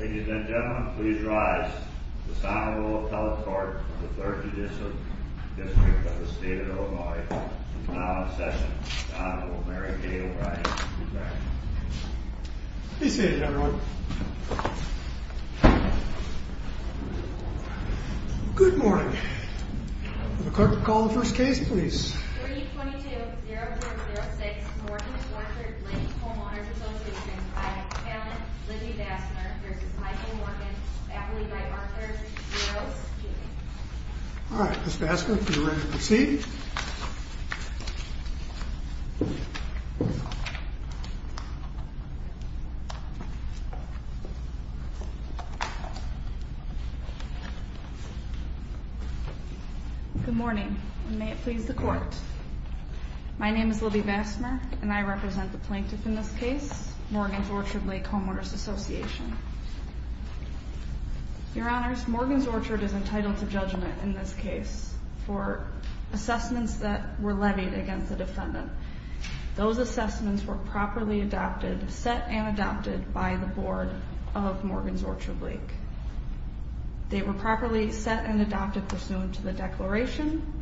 Ladies and gentlemen, please rise for the final roll of the telecourt of the 3rd Judicial District of the State of Illinois. And now in session, the Honorable Mary Kay O'Brien. Be seated, everyone. Good morning. Could the clerk call the first case, please? 322-0406, Morgan's Orchard Lake Homeowners' Association. I, Callan Liddy Vassner, v. Michael Morgan, faculty by Orchard. 0, seated. All right, Ms. Vassner, if you're ready to proceed. Good morning, and may it please the Court. My name is Liddy Vassner, and I represent the plaintiff in this case, Morgan's Orchard Lake Homeowners' Association. Your Honors, Morgan's Orchard is entitled to judgment in this case for assessments that were levied against the defendant. Those assessments were properly adopted, set and adopted by the Board of Morgan's Orchard Lake. They were properly set and adopted pursuant to the declaration.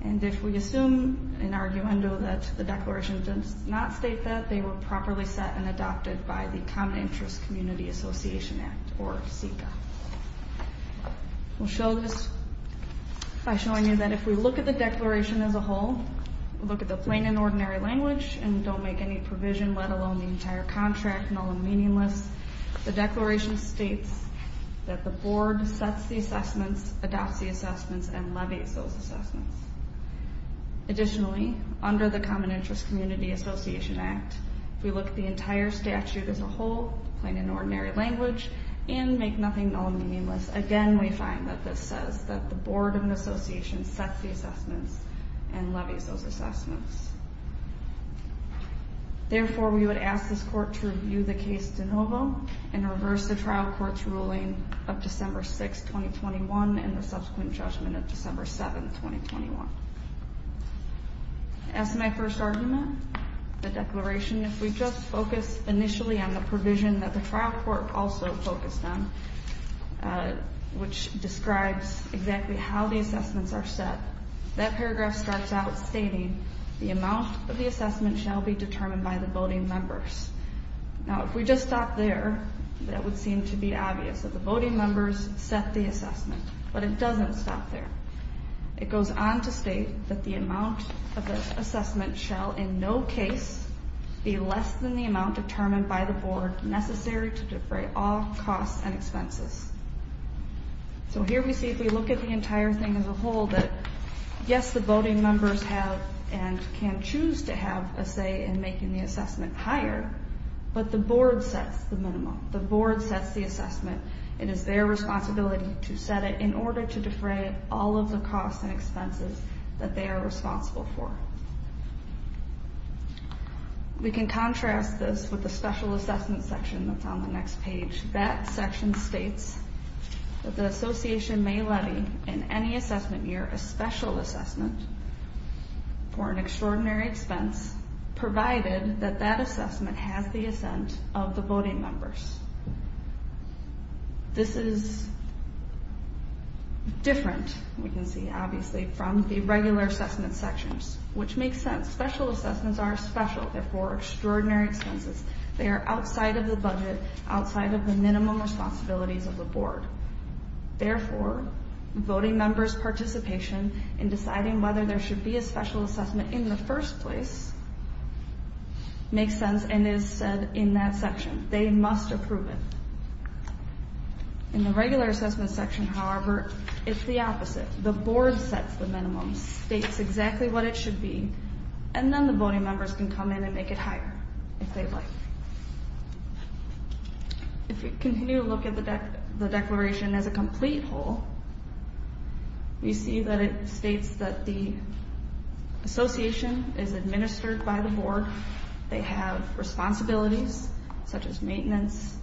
And if we assume an argumento that the declaration does not state that, they were properly set and adopted by the Common Interest Community Association Act, or CICA. We'll show this by showing you that if we look at the declaration as a whole, look at the plain and ordinary language, and don't make any provision, let alone the entire contract, null and meaningless, the declaration states that the Board sets the assessments, adopts the assessments, and levies those assessments. Additionally, under the Common Interest Community Association Act, if we look at the entire statute as a whole, plain and ordinary language, and make nothing null and meaningless, again we find that this says that the Board of an association sets the assessments and levies those assessments. Therefore, we would ask this Court to review the case de novo and reverse the trial court's ruling of December 6, 2021, and the subsequent judgment of December 7, 2021. As to my first argument, the declaration, if we just focus initially on the provision that the trial court also focused on, which describes exactly how the assessments are set, that paragraph starts out stating, the amount of the assessment shall be determined by the voting members. Now, if we just stop there, that would seem to be obvious, that the voting members set the assessment, but it doesn't stop there. It goes on to state that the amount of the assessment shall in no case be less than the amount determined by the Board necessary to defray all costs and expenses. So here we see, if we look at the entire thing as a whole, that yes, the voting members have and can choose to have a say in making the assessment higher, but the Board sets the minimum. The Board sets the assessment. It is their responsibility to set it in order to defray all of the costs and expenses that they are responsible for. We can contrast this with the special assessment section that's on the next page. That section states that the association may levy in any assessment year a special assessment for an extraordinary expense, provided that that assessment has the assent of the voting members. This is different, we can see, obviously, from the regular assessment sections, which makes sense. Special assessments are special. They're for extraordinary expenses. They are outside of the budget, outside of the minimum responsibilities of the Board. Therefore, voting members' participation in deciding whether there should be a special assessment in the first place makes sense and is said in that section. They must approve it. In the regular assessment section, however, it's the opposite. The Board sets the minimum, states exactly what it should be, and then the voting members can come in and make it higher if they'd like. If we continue to look at the declaration as a complete whole, we see that it states that the association is administered by the Board. They have responsibilities such as maintenance,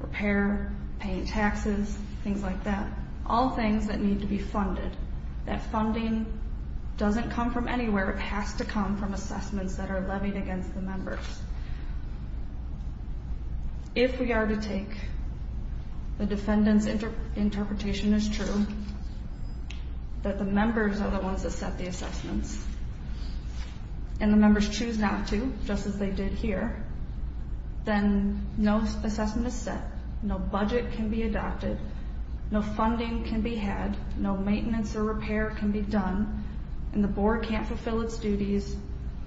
repair, paying taxes, things like that, all things that need to be funded. That funding doesn't come from anywhere. It has to come from assessments that are levied against the members. If we are to take the defendant's interpretation as true, that the members are the ones that set the assessments, and the members choose not to, just as they did here, then no assessment is set, no budget can be adopted, no funding can be had, no maintenance or repair can be done, and the Board can't fulfill its duties,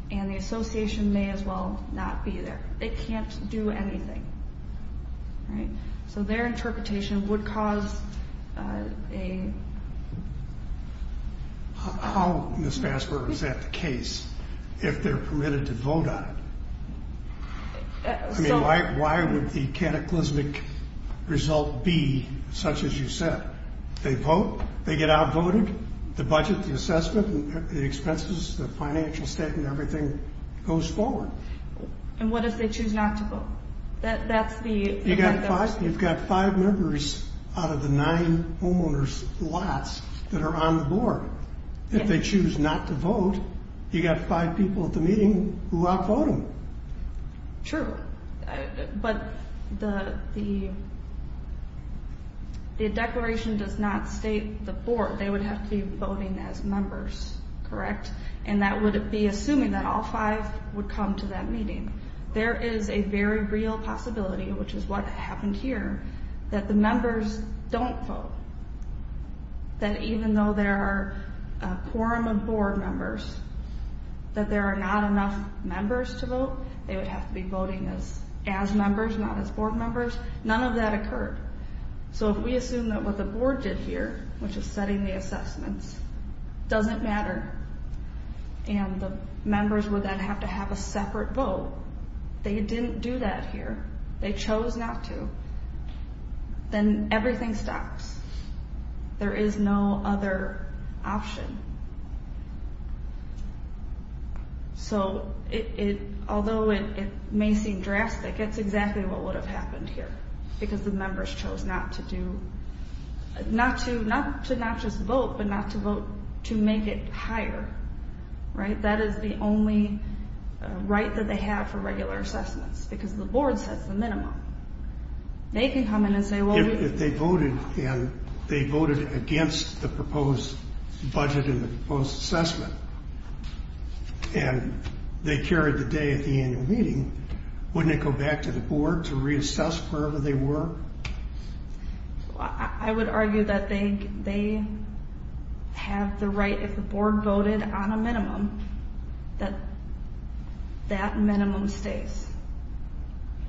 and the association may as well not be there. It can't do anything. So their interpretation would cause a... How, Ms. Fassberg, is that the case if they're permitted to vote on it? I mean, why would the cataclysmic result be such as you said? They vote, they get outvoted, the budget, the assessment, the expenses, the financial statement, everything goes forward. And what if they choose not to vote? That's the... You've got five members out of the nine homeowners' lots that are on the Board. If they choose not to vote, you've got five people at the meeting who outvote them. True, but the declaration does not state the Board. They would have to be voting as members, correct? And that would be assuming that all five would come to that meeting. There is a very real possibility, which is what happened here, that the members don't vote. That even though there are a quorum of Board members, that there are not enough members to vote. They would have to be voting as members, not as Board members. None of that occurred. So if we assume that what the Board did here, which is setting the assessments, doesn't matter, and the members would then have to have a separate vote, they didn't do that here. They chose not to, then everything stops. There is no other option. So although it may seem drastic, it's exactly what would have happened here, because the members chose not to do... not to not just vote, but not to vote to make it higher. That is the only right that they have for regular assessments, because the Board sets the minimum. They can come in and say, well... If they voted and they voted against the proposed budget and the proposed assessment, and they carried the day at the annual meeting, wouldn't they go back to the Board to reassess wherever they were? I would argue that they have the right, if the Board voted on a minimum, that that minimum stays,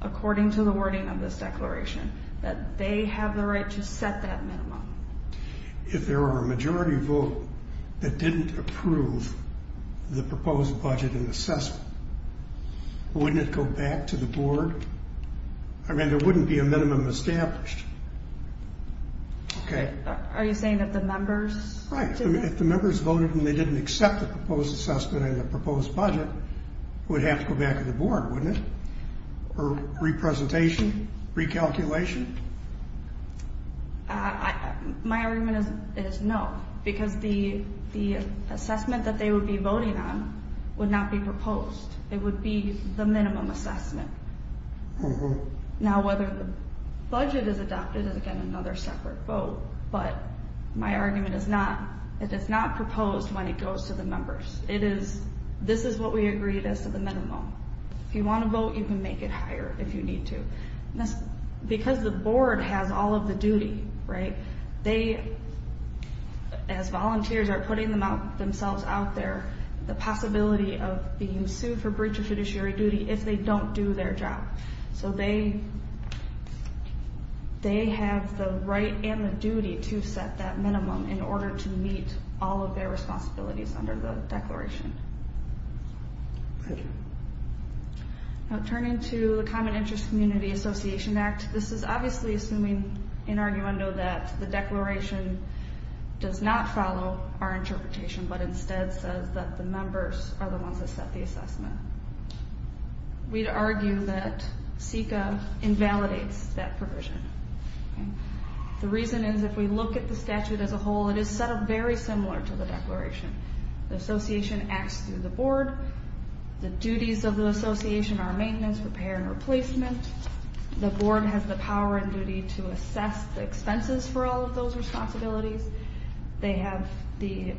according to the wording of this declaration, that they have the right to set that minimum. If there were a majority vote that didn't approve the proposed budget and assessment, wouldn't it go back to the Board? I mean, there wouldn't be a minimum established. Are you saying that the members... Right. If the members voted and they didn't accept the proposed assessment and the proposed budget, it would have to go back to the Board, wouldn't it? Or re-presentation? Re-calculation? My argument is no, because the assessment that they would be voting on would not be proposed. It would be the minimum assessment. Now, whether the budget is adopted is, again, another separate vote. But my argument is not... It is not proposed when it goes to the members. This is what we agreed as to the minimum. If you want to vote, you can make it higher if you need to. Because the Board has all of the duty, right? They, as volunteers, are putting themselves out there. The possibility of being sued for breach of fiduciary duty if they don't do their job. So they have the right and the duty to set that minimum in order to meet all of their responsibilities under the Declaration. Now, turning to the Common Interest Community Association Act, this is obviously assuming, in arguendo, that the Declaration does not follow our interpretation, but instead says that the members are the ones that set the assessment. We'd argue that SECA invalidates that provision. The reason is, if we look at the statute as a whole, it is set up very similar to the Declaration. The Association acts through the Board. The duties of the Association are maintenance, repair, and replacement. The Board has the power and duty to assess the expenses for all of those responsibilities. The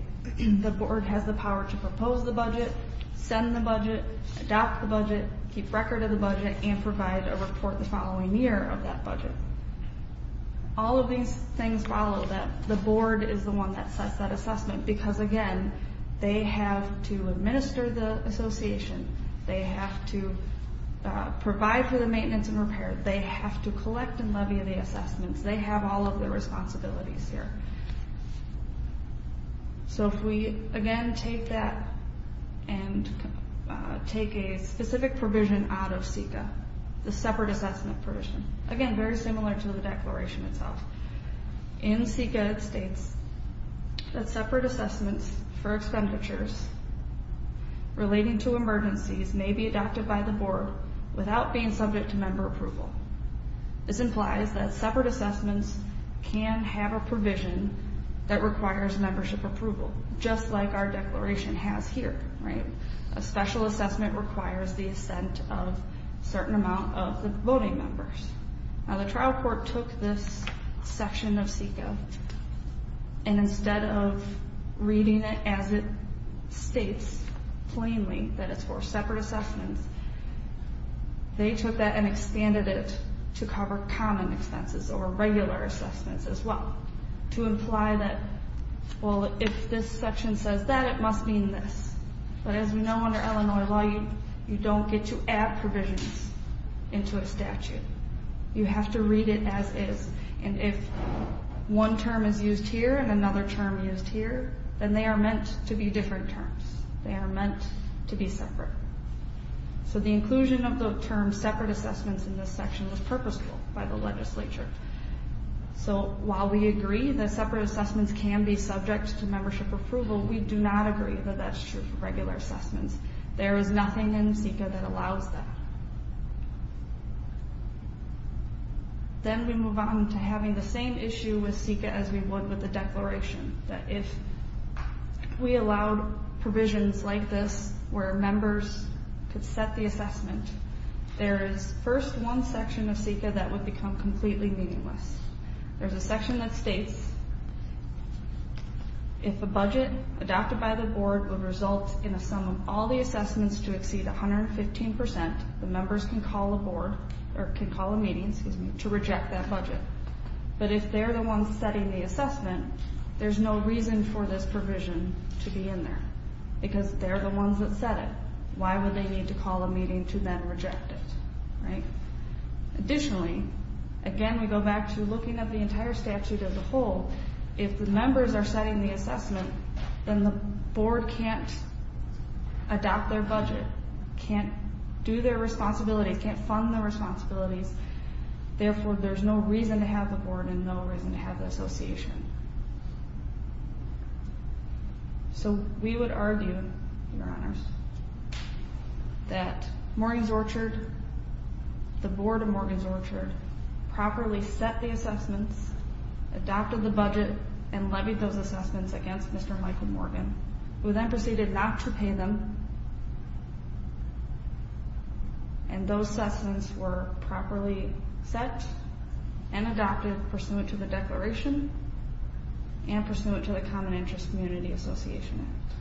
Board has the power to propose the budget, send the budget, adopt the budget, keep record of the budget, and provide a report the following year of that budget. All of these things follow that the Board is the one that sets that assessment. Because, again, they have to administer the Association. They have to provide for the maintenance and repair. They have to collect and levy the assessments. They have all of the responsibilities here. So if we, again, take that and take a specific provision out of SECA, the separate assessment provision, again, very similar to the Declaration itself, in SECA it states that separate assessments for expenditures relating to emergencies may be adopted by the Board without being subject to member approval. This implies that separate assessments can have a provision that requires membership approval, just like our Declaration has here. A special assessment requires the assent of a certain amount of the voting members. Now, the trial court took this section of SECA, and instead of reading it as it states plainly that it's for separate assessments, they took that and expanded it to cover common expenses or regular assessments as well, to imply that, well, if this section says that, it must mean this. But as we know under Illinois law, you don't get to add provisions into a statute. You have to read it as is. And if one term is used here and another term used here, then they are meant to be different terms. They are meant to be separate. So the inclusion of the term separate assessments in this section was purposeful by the legislature. So while we agree that separate assessments can be subject to membership approval, we do not agree that that's true for regular assessments. There is nothing in SECA that allows that. Then we move on to having the same issue with SECA as we would with the Declaration, that if we allowed provisions like this where members could set the assessment, there is first one section of SECA that would become completely meaningless. There's a section that states if a budget adopted by the board would result in a sum of all the assessments to exceed 115 percent, the members can call a meeting to reject that budget. But if they're the ones setting the assessment, there's no reason for this provision to be in there because they're the ones that set it. Why would they need to call a meeting to then reject it? Additionally, again, we go back to looking at the entire statute as a whole. If the members are setting the assessment, then the board can't adopt their budget, can't do their responsibilities, can't fund their responsibilities. Therefore, there's no reason to have the board and no reason to have the association. So we would argue, Your Honors, that Morgan's Orchard, the board of Morgan's Orchard, properly set the assessments, adopted the budget, and levied those assessments against Mr. Michael Morgan. We then proceeded not to pay them, and those assessments were properly set and adopted pursuant to the declaration and pursuant to the Common Interest Community Association Act.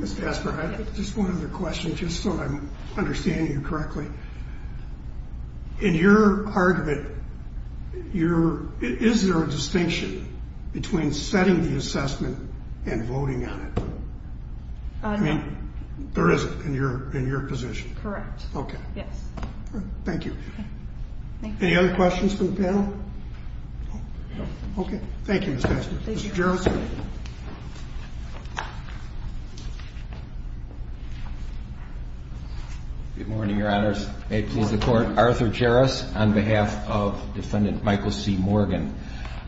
Ms. Casper, I have just one other question, just so I'm understanding you correctly. In your argument, is there a distinction between setting the assessment and voting on it? I mean, there isn't in your position. Correct. Okay. Yes. Thank you. Thank you. Any other questions from the panel? Okay. Thank you, Ms. Casper. Thank you. Mr. Jarrus. Good morning, Your Honors. Good morning. May it please the Court, Arthur Jarrus on behalf of Defendant Michael C. Morgan.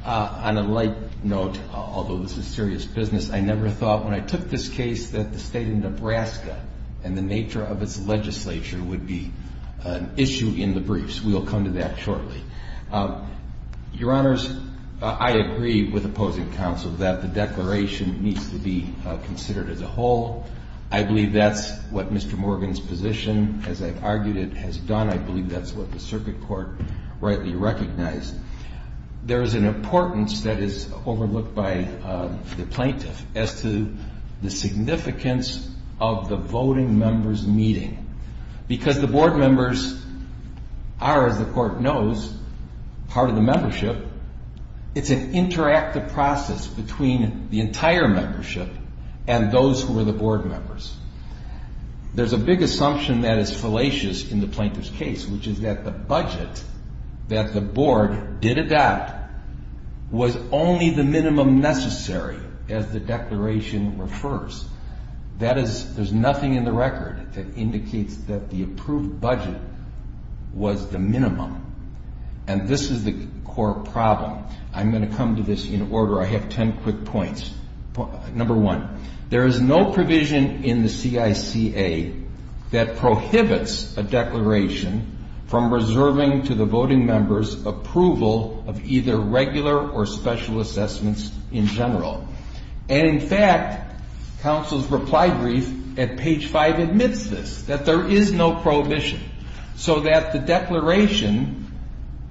On a light note, although this is serious business, I never thought when I took this case that the state of Nebraska and the nature of its legislature would be an issue in the briefs. We will come to that shortly. Your Honors, I agree with opposing counsel that the declaration needs to be considered as a whole. I believe that's what Mr. Morgan's position, as I've argued it, has done. I believe that's what the circuit court rightly recognized. There is an importance that is overlooked by the plaintiff as to the significance of the voting members meeting. Because the board members are, as the Court knows, part of the membership, it's an interactive process between the entire membership and those who are the board members. There's a big assumption that is fallacious in the plaintiff's case, which is that the budget that the board did adopt was only the minimum necessary, as the declaration refers. That is, there's nothing in the record that indicates that the approved budget was the minimum. And this is the core problem. I'm going to come to this in order. I have ten quick points. Number one, there is no provision in the CICA that prohibits a declaration from reserving to the voting members approval of either regular or special assessments in general. And, in fact, counsel's reply brief at page five admits this, that there is no prohibition. So that the declaration,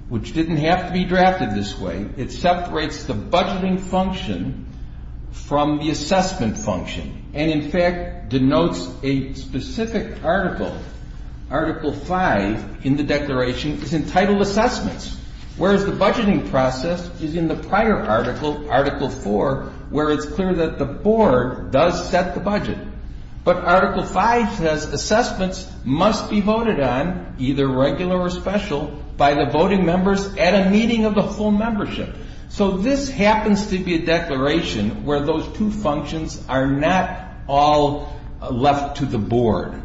which didn't have to be drafted this way, it separates the budgeting function from the assessment function. And, in fact, denotes a specific article. Article 5 in the declaration is entitled assessments, whereas the budgeting process is in the prior article, Article 4, where it's clear that the board does set the budget. But Article 5 says assessments must be voted on, either regular or special, by the voting members at a meeting of the whole membership. So this happens to be a declaration where those two functions are not all left to the board.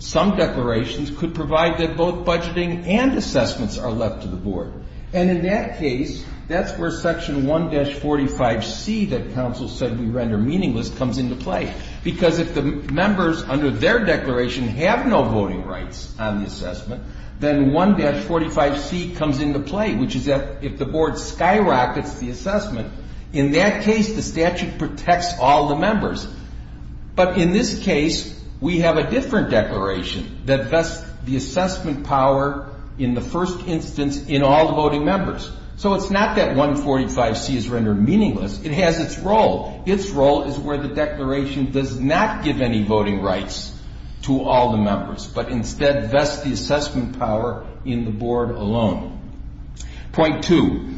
Some declarations could provide that both budgeting and assessments are left to the board. And, in that case, that's where Section 1-45C that counsel said we render meaningless comes into play. Because if the members, under their declaration, have no voting rights on the assessment, then 1-45C comes into play, which is that if the board skyrockets the assessment, in that case the statute protects all the members. But, in this case, we have a different declaration that vests the assessment power in the first instance in all the voting members. So it's not that 1-45C is rendered meaningless. It has its role. Its role is where the declaration does not give any voting rights to all the members, but instead vests the assessment power in the board alone. Point 2.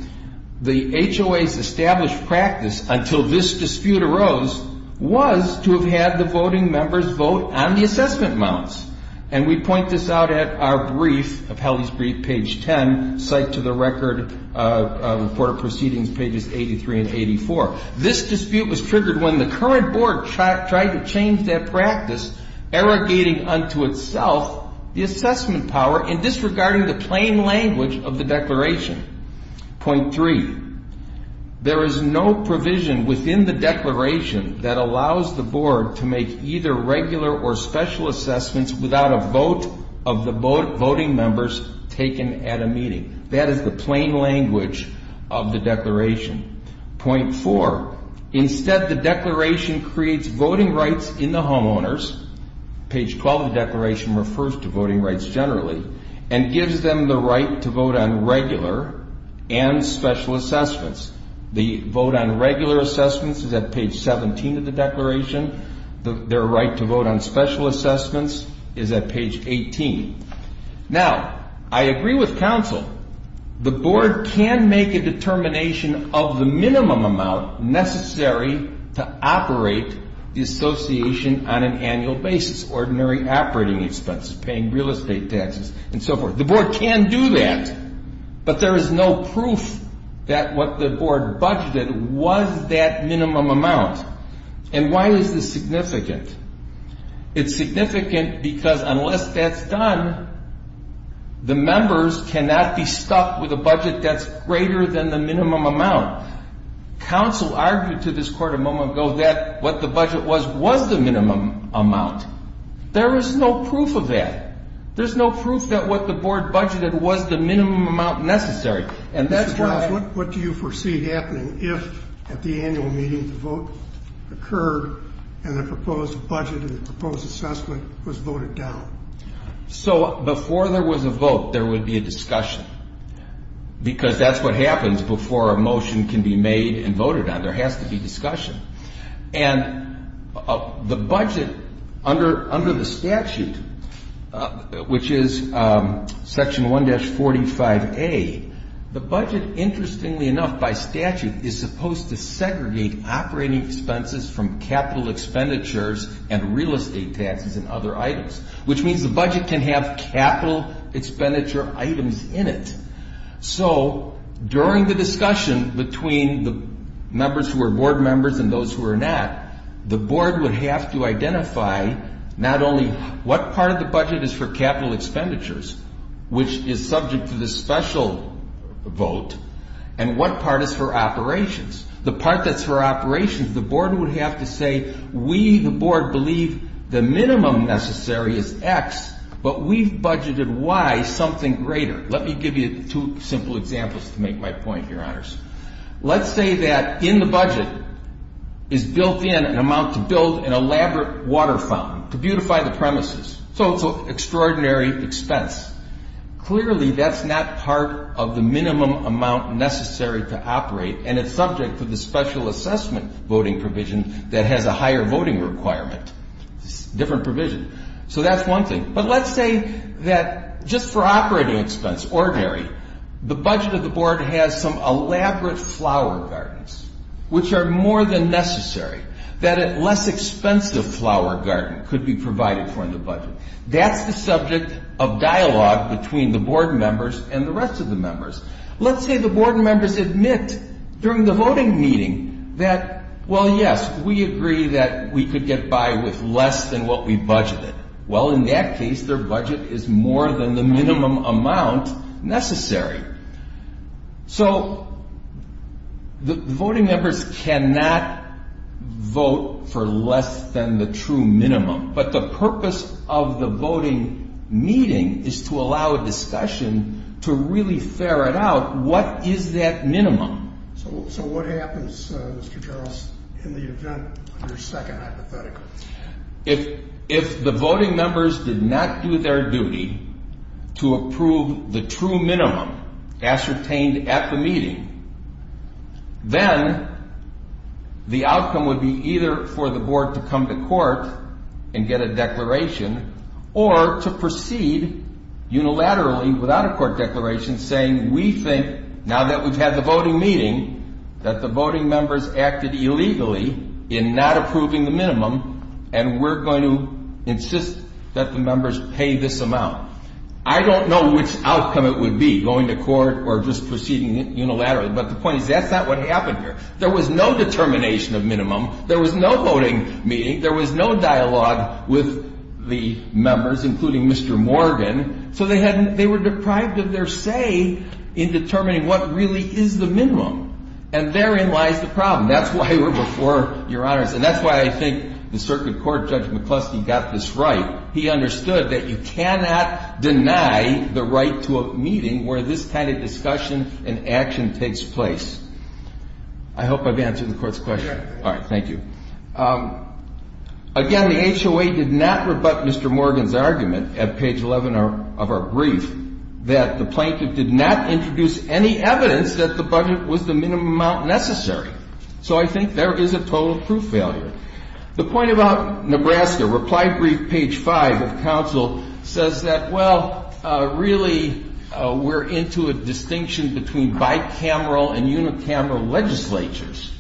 The HOA's established practice until this dispute arose was to have had the voting members vote on the assessment mounts. And we point this out at our brief, of Helley's brief, page 10, site to the record, report of proceedings, pages 83 and 84. This dispute was triggered when the current board tried to change that practice, arrogating unto itself the assessment power and disregarding the plain language of the declaration. Point 3. There is no provision within the declaration that allows the board to make either regular or special assessments without a vote of the voting members taken at a meeting. That is the plain language of the declaration. Point 4. Instead, the declaration creates voting rights in the homeowners. Page 12 of the declaration refers to voting rights generally and gives them the right to vote on regular and special assessments. The vote on regular assessments is at page 17 of the declaration. Their right to vote on special assessments is at page 18. Now, I agree with counsel. The board can make a determination of the minimum amount necessary to operate the association on an annual basis, ordinary operating expenses, paying real estate taxes, and so forth. The board can do that, but there is no proof that what the board budgeted was that minimum amount. And why is this significant? It's significant because unless that's done, the members cannot be stuck with a budget that's greater than the minimum amount. Counsel argued to this Court a moment ago that what the budget was was the minimum amount. There is no proof of that. There's no proof that what the board budgeted was the minimum amount necessary. Mr. Barnes, what do you foresee happening if at the annual meeting the vote occurred and the proposed budget and the proposed assessment was voted down? So before there was a vote, there would be a discussion because that's what happens before a motion can be made and voted on. There has to be discussion. And the budget under the statute, which is Section 1-45A, the budget, interestingly enough, by statute, is supposed to segregate operating expenses from capital expenditures and real estate taxes and other items, which means the budget can have capital expenditure items in it. So during the discussion between the members who are board members and those who are not, the board would have to identify not only what part of the budget is for capital expenditures, which is subject to the special vote, and what part is for operations. The part that's for operations, the board would have to say, we, the board, believe the minimum necessary is X, but we've budgeted Y, something greater. Let me give you two simple examples to make my point, Your Honors. Let's say that in the budget is built in an amount to build an elaborate water fountain, to beautify the premises, so it's an extraordinary expense. Clearly, that's not part of the minimum amount necessary to operate, and it's subject to the special assessment voting provision that has a higher voting requirement. It's a different provision. So that's one thing. But let's say that just for operating expense, ordinary, the budget of the board has some elaborate flower gardens, which are more than necessary, that a less expensive flower garden could be provided for in the budget. That's the subject of dialogue between the board members and the rest of the members. Let's say the board members admit during the voting meeting that, well, yes, we agree that we could get by with less than what we budgeted. Well, in that case, their budget is more than the minimum amount necessary. So the voting members cannot vote for less than the true minimum, but the purpose of the voting meeting is to allow a discussion to really ferret out what is that minimum. So what happens, Mr. Jarrus, in the event of your second hypothetical? If the voting members did not do their duty to approve the true minimum ascertained at the meeting, then the outcome would be either for the board to come to court and get a declaration or to proceed unilaterally without a court declaration saying, we think now that we've had the voting meeting that the voting members acted illegally in not approving the minimum and we're going to insist that the members pay this amount. I don't know which outcome it would be, going to court or just proceeding unilaterally, but the point is that's not what happened here. There was no determination of minimum. There was no voting meeting. There was no dialogue with the members, including Mr. Morgan. So they were deprived of their say in determining what really is the minimum. And therein lies the problem. That's why we're before Your Honors. And that's why I think the circuit court, Judge McCluskey, got this right. He understood that you cannot deny the right to a meeting where this kind of discussion and action takes place. I hope I've answered the Court's question. Thank you. Again, the HOA did not rebut Mr. Morgan's argument at page 11 of our brief that the plaintiff did not introduce any evidence that the budget was the minimum amount necessary. So I think there is a total proof failure. The point about Nebraska, reply brief page 5 of counsel, says that, well, really we're into a distinction between bicameral and unicameral legislatures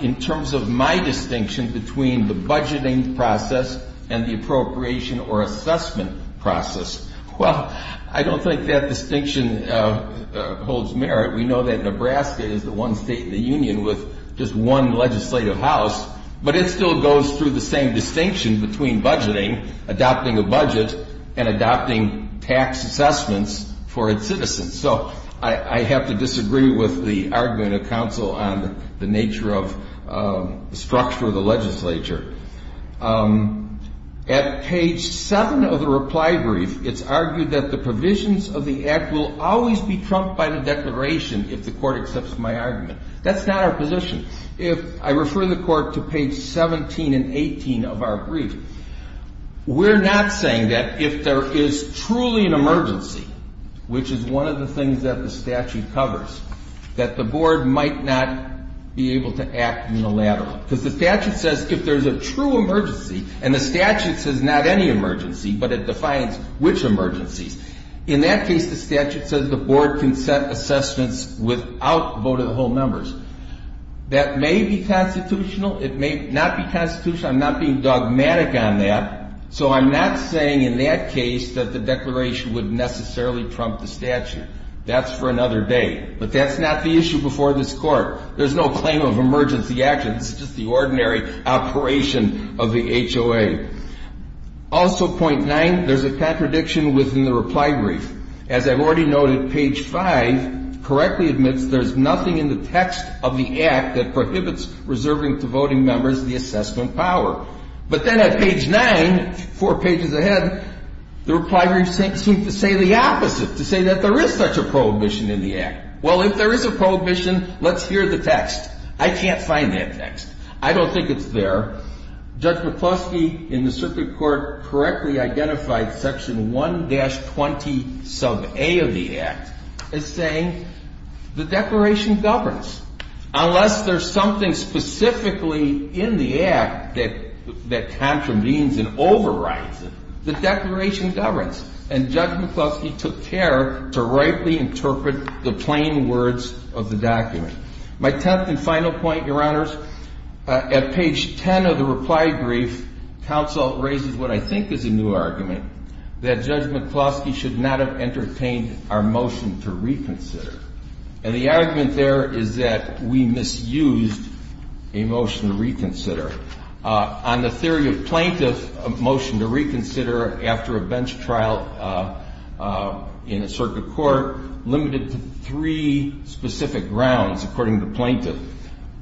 in terms of my distinction between the budgeting process and the appropriation or assessment process. Well, I don't think that distinction holds merit. We know that Nebraska is the one state in the union with just one legislative house, but it still goes through the same distinction between budgeting, adopting a budget, and adopting tax assessments for its citizens. So I have to disagree with the argument of counsel on the nature of the structure of the legislature. At page 7 of the reply brief, it's argued that the provisions of the Act will always be trumped by the declaration if the Court accepts my argument. That's not our position. If I refer the Court to page 17 and 18 of our brief, we're not saying that if there is truly an emergency, which is one of the things that the statute covers, that the Board might not be able to act unilaterally. Because the statute says if there's a true emergency, and the statute says not any emergency, but it defines which emergencies. In that case, the statute says the Board can set assessments without vote of the whole numbers. That may be constitutional. It may not be constitutional. I'm not being dogmatic on that. So I'm not saying in that case that the declaration would necessarily trump the statute. That's for another day. But that's not the issue before this Court. There's no claim of emergency action. It's just the ordinary operation of the HOA. Also, point 9, there's a contradiction within the reply brief. As I've already noted, page 5 correctly admits there's nothing in the text of the Act that prohibits reserving to voting members the assessment power. But then at page 9, four pages ahead, the reply brief seems to say the opposite, to say that there is such a prohibition in the Act. Well, if there is a prohibition, let's hear the text. I can't find that text. I don't think it's there. Judge McCloskey in the Circuit Court correctly identified section 1-20 sub a of the Act as saying the declaration governs. Unless there's something specifically in the Act that contravenes and overrides it, the declaration governs. And Judge McCloskey took care to rightly interpret the plain words of the document. My tenth and final point, Your Honors, at page 10 of the reply brief, counsel raises what I think is a new argument, that Judge McCloskey should not have entertained our motion to reconsider. And the argument there is that we misused a motion to reconsider. On the theory of plaintiff motion to reconsider after a bench trial in a circuit court, limited to three specific grounds according to the plaintiff.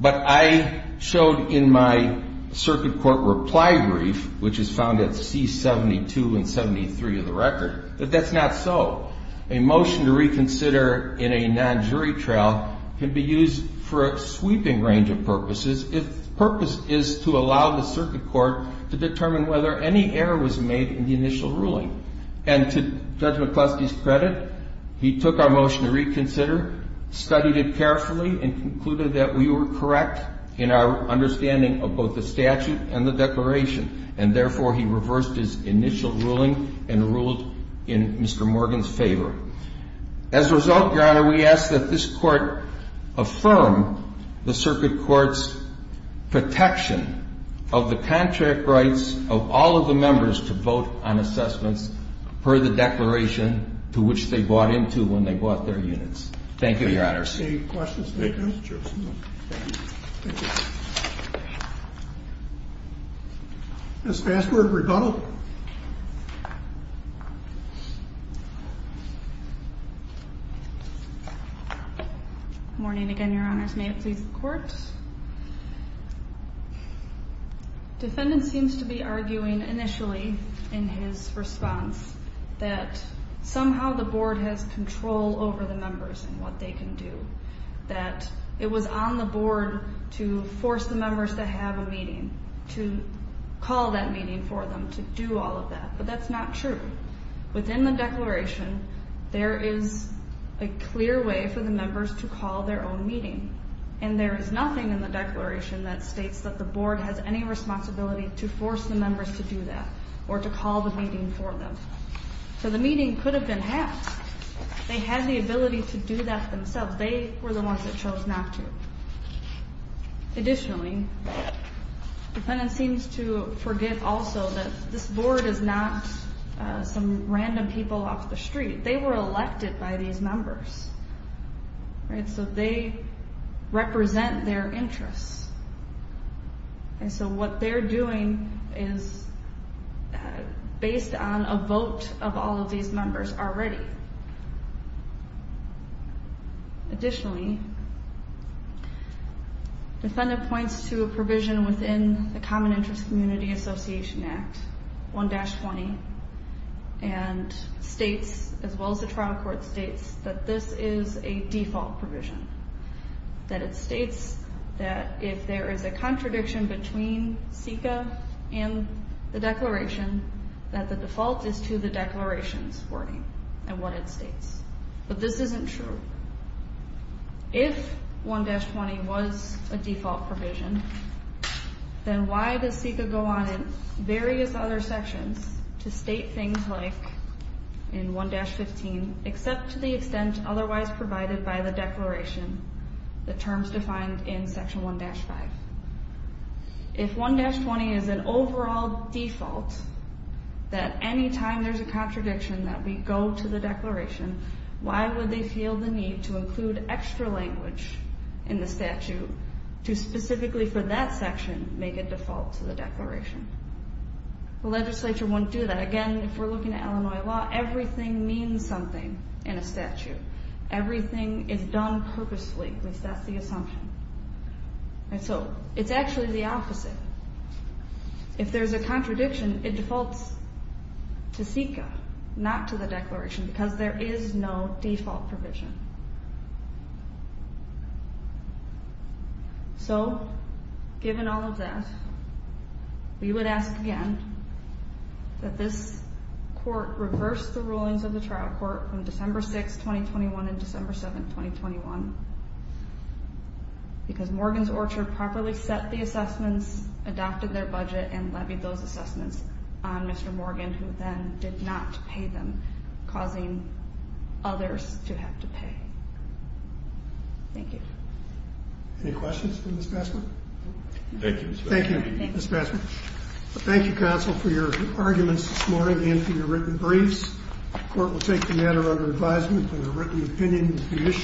But I showed in my circuit court reply brief, which is found at C-72 and 73 of the record, that that's not so. A motion to reconsider in a non-jury trial can be used for a sweeping range of purposes if the purpose is to allow the circuit court to determine whether any error was made in the initial ruling. And to Judge McCloskey's credit, he took our motion to reconsider, studied it carefully, and concluded that we were correct in our understanding of both the statute and the declaration. And therefore, he reversed his initial ruling and ruled in Mr. Morgan's favor. As a result, Your Honor, we ask that this court affirm the circuit court's protection of the contract rights of all of the members to vote on assessments per the declaration to which they bought into when they bought their units. Thank you, Your Honor. Any questions? Ms. Fassberg, rebuttal. Good morning again, Your Honors. May it please the Court. Defendant seems to be arguing initially in his response that somehow the Board has control over the members and what they can do, that it was on the Board to force the members to have a meeting, to call that meeting for them, to do all of that. But that's not true. Within the declaration, there is a clear way for the members to call their own meeting. And there is nothing in the declaration that states that the Board has any responsibility to force the members to do that or to call the meeting for them. So the meeting could have been had. They had the ability to do that themselves. They were the ones that chose not to. Additionally, defendant seems to forgive also that this Board is not some random people off the street. They were elected by these members. So they represent their interests. And so what they're doing is based on a vote of all of these members already. Additionally, defendant points to a provision within the Common Interest Community Association Act, 1-20, and states, as well as the trial court states, that this is a default provision. That it states that if there is a contradiction between CICA and the declaration, that the default is to the declaration's wording and what it states. But this isn't true. If 1-20 was a default provision, then why does CICA go on in various other sections to state things like in 1-15, except to the extent otherwise provided by the declaration, the terms defined in Section 1-5? If 1-20 is an overall default, that any time there's a contradiction that we go to the declaration, why would they feel the need to include extra language in the statute to specifically for that section make it default to the declaration? The legislature wouldn't do that. Again, if we're looking at Illinois law, everything means something in a statute. Everything is done purposefully, at least that's the assumption. And so it's actually the opposite. If there's a contradiction, it defaults to CICA, not to the declaration, because there is no default provision. So given all of that, we would ask again that this court reverse the rulings of the trial court from December 6, 2021, and December 7, 2021, because Morgan's Orchard properly set the assessments, adopted their budget, and levied those assessments on Mr. Morgan, who then did not pay them, causing others to have to pay. Thank you. Any questions for Ms. Bassman? Thank you, Ms. Bassman. Thank you, Ms. Bassman. Thank you, counsel, for your arguments this morning and for your written briefs. The court will take the matter under advisement under written opinion.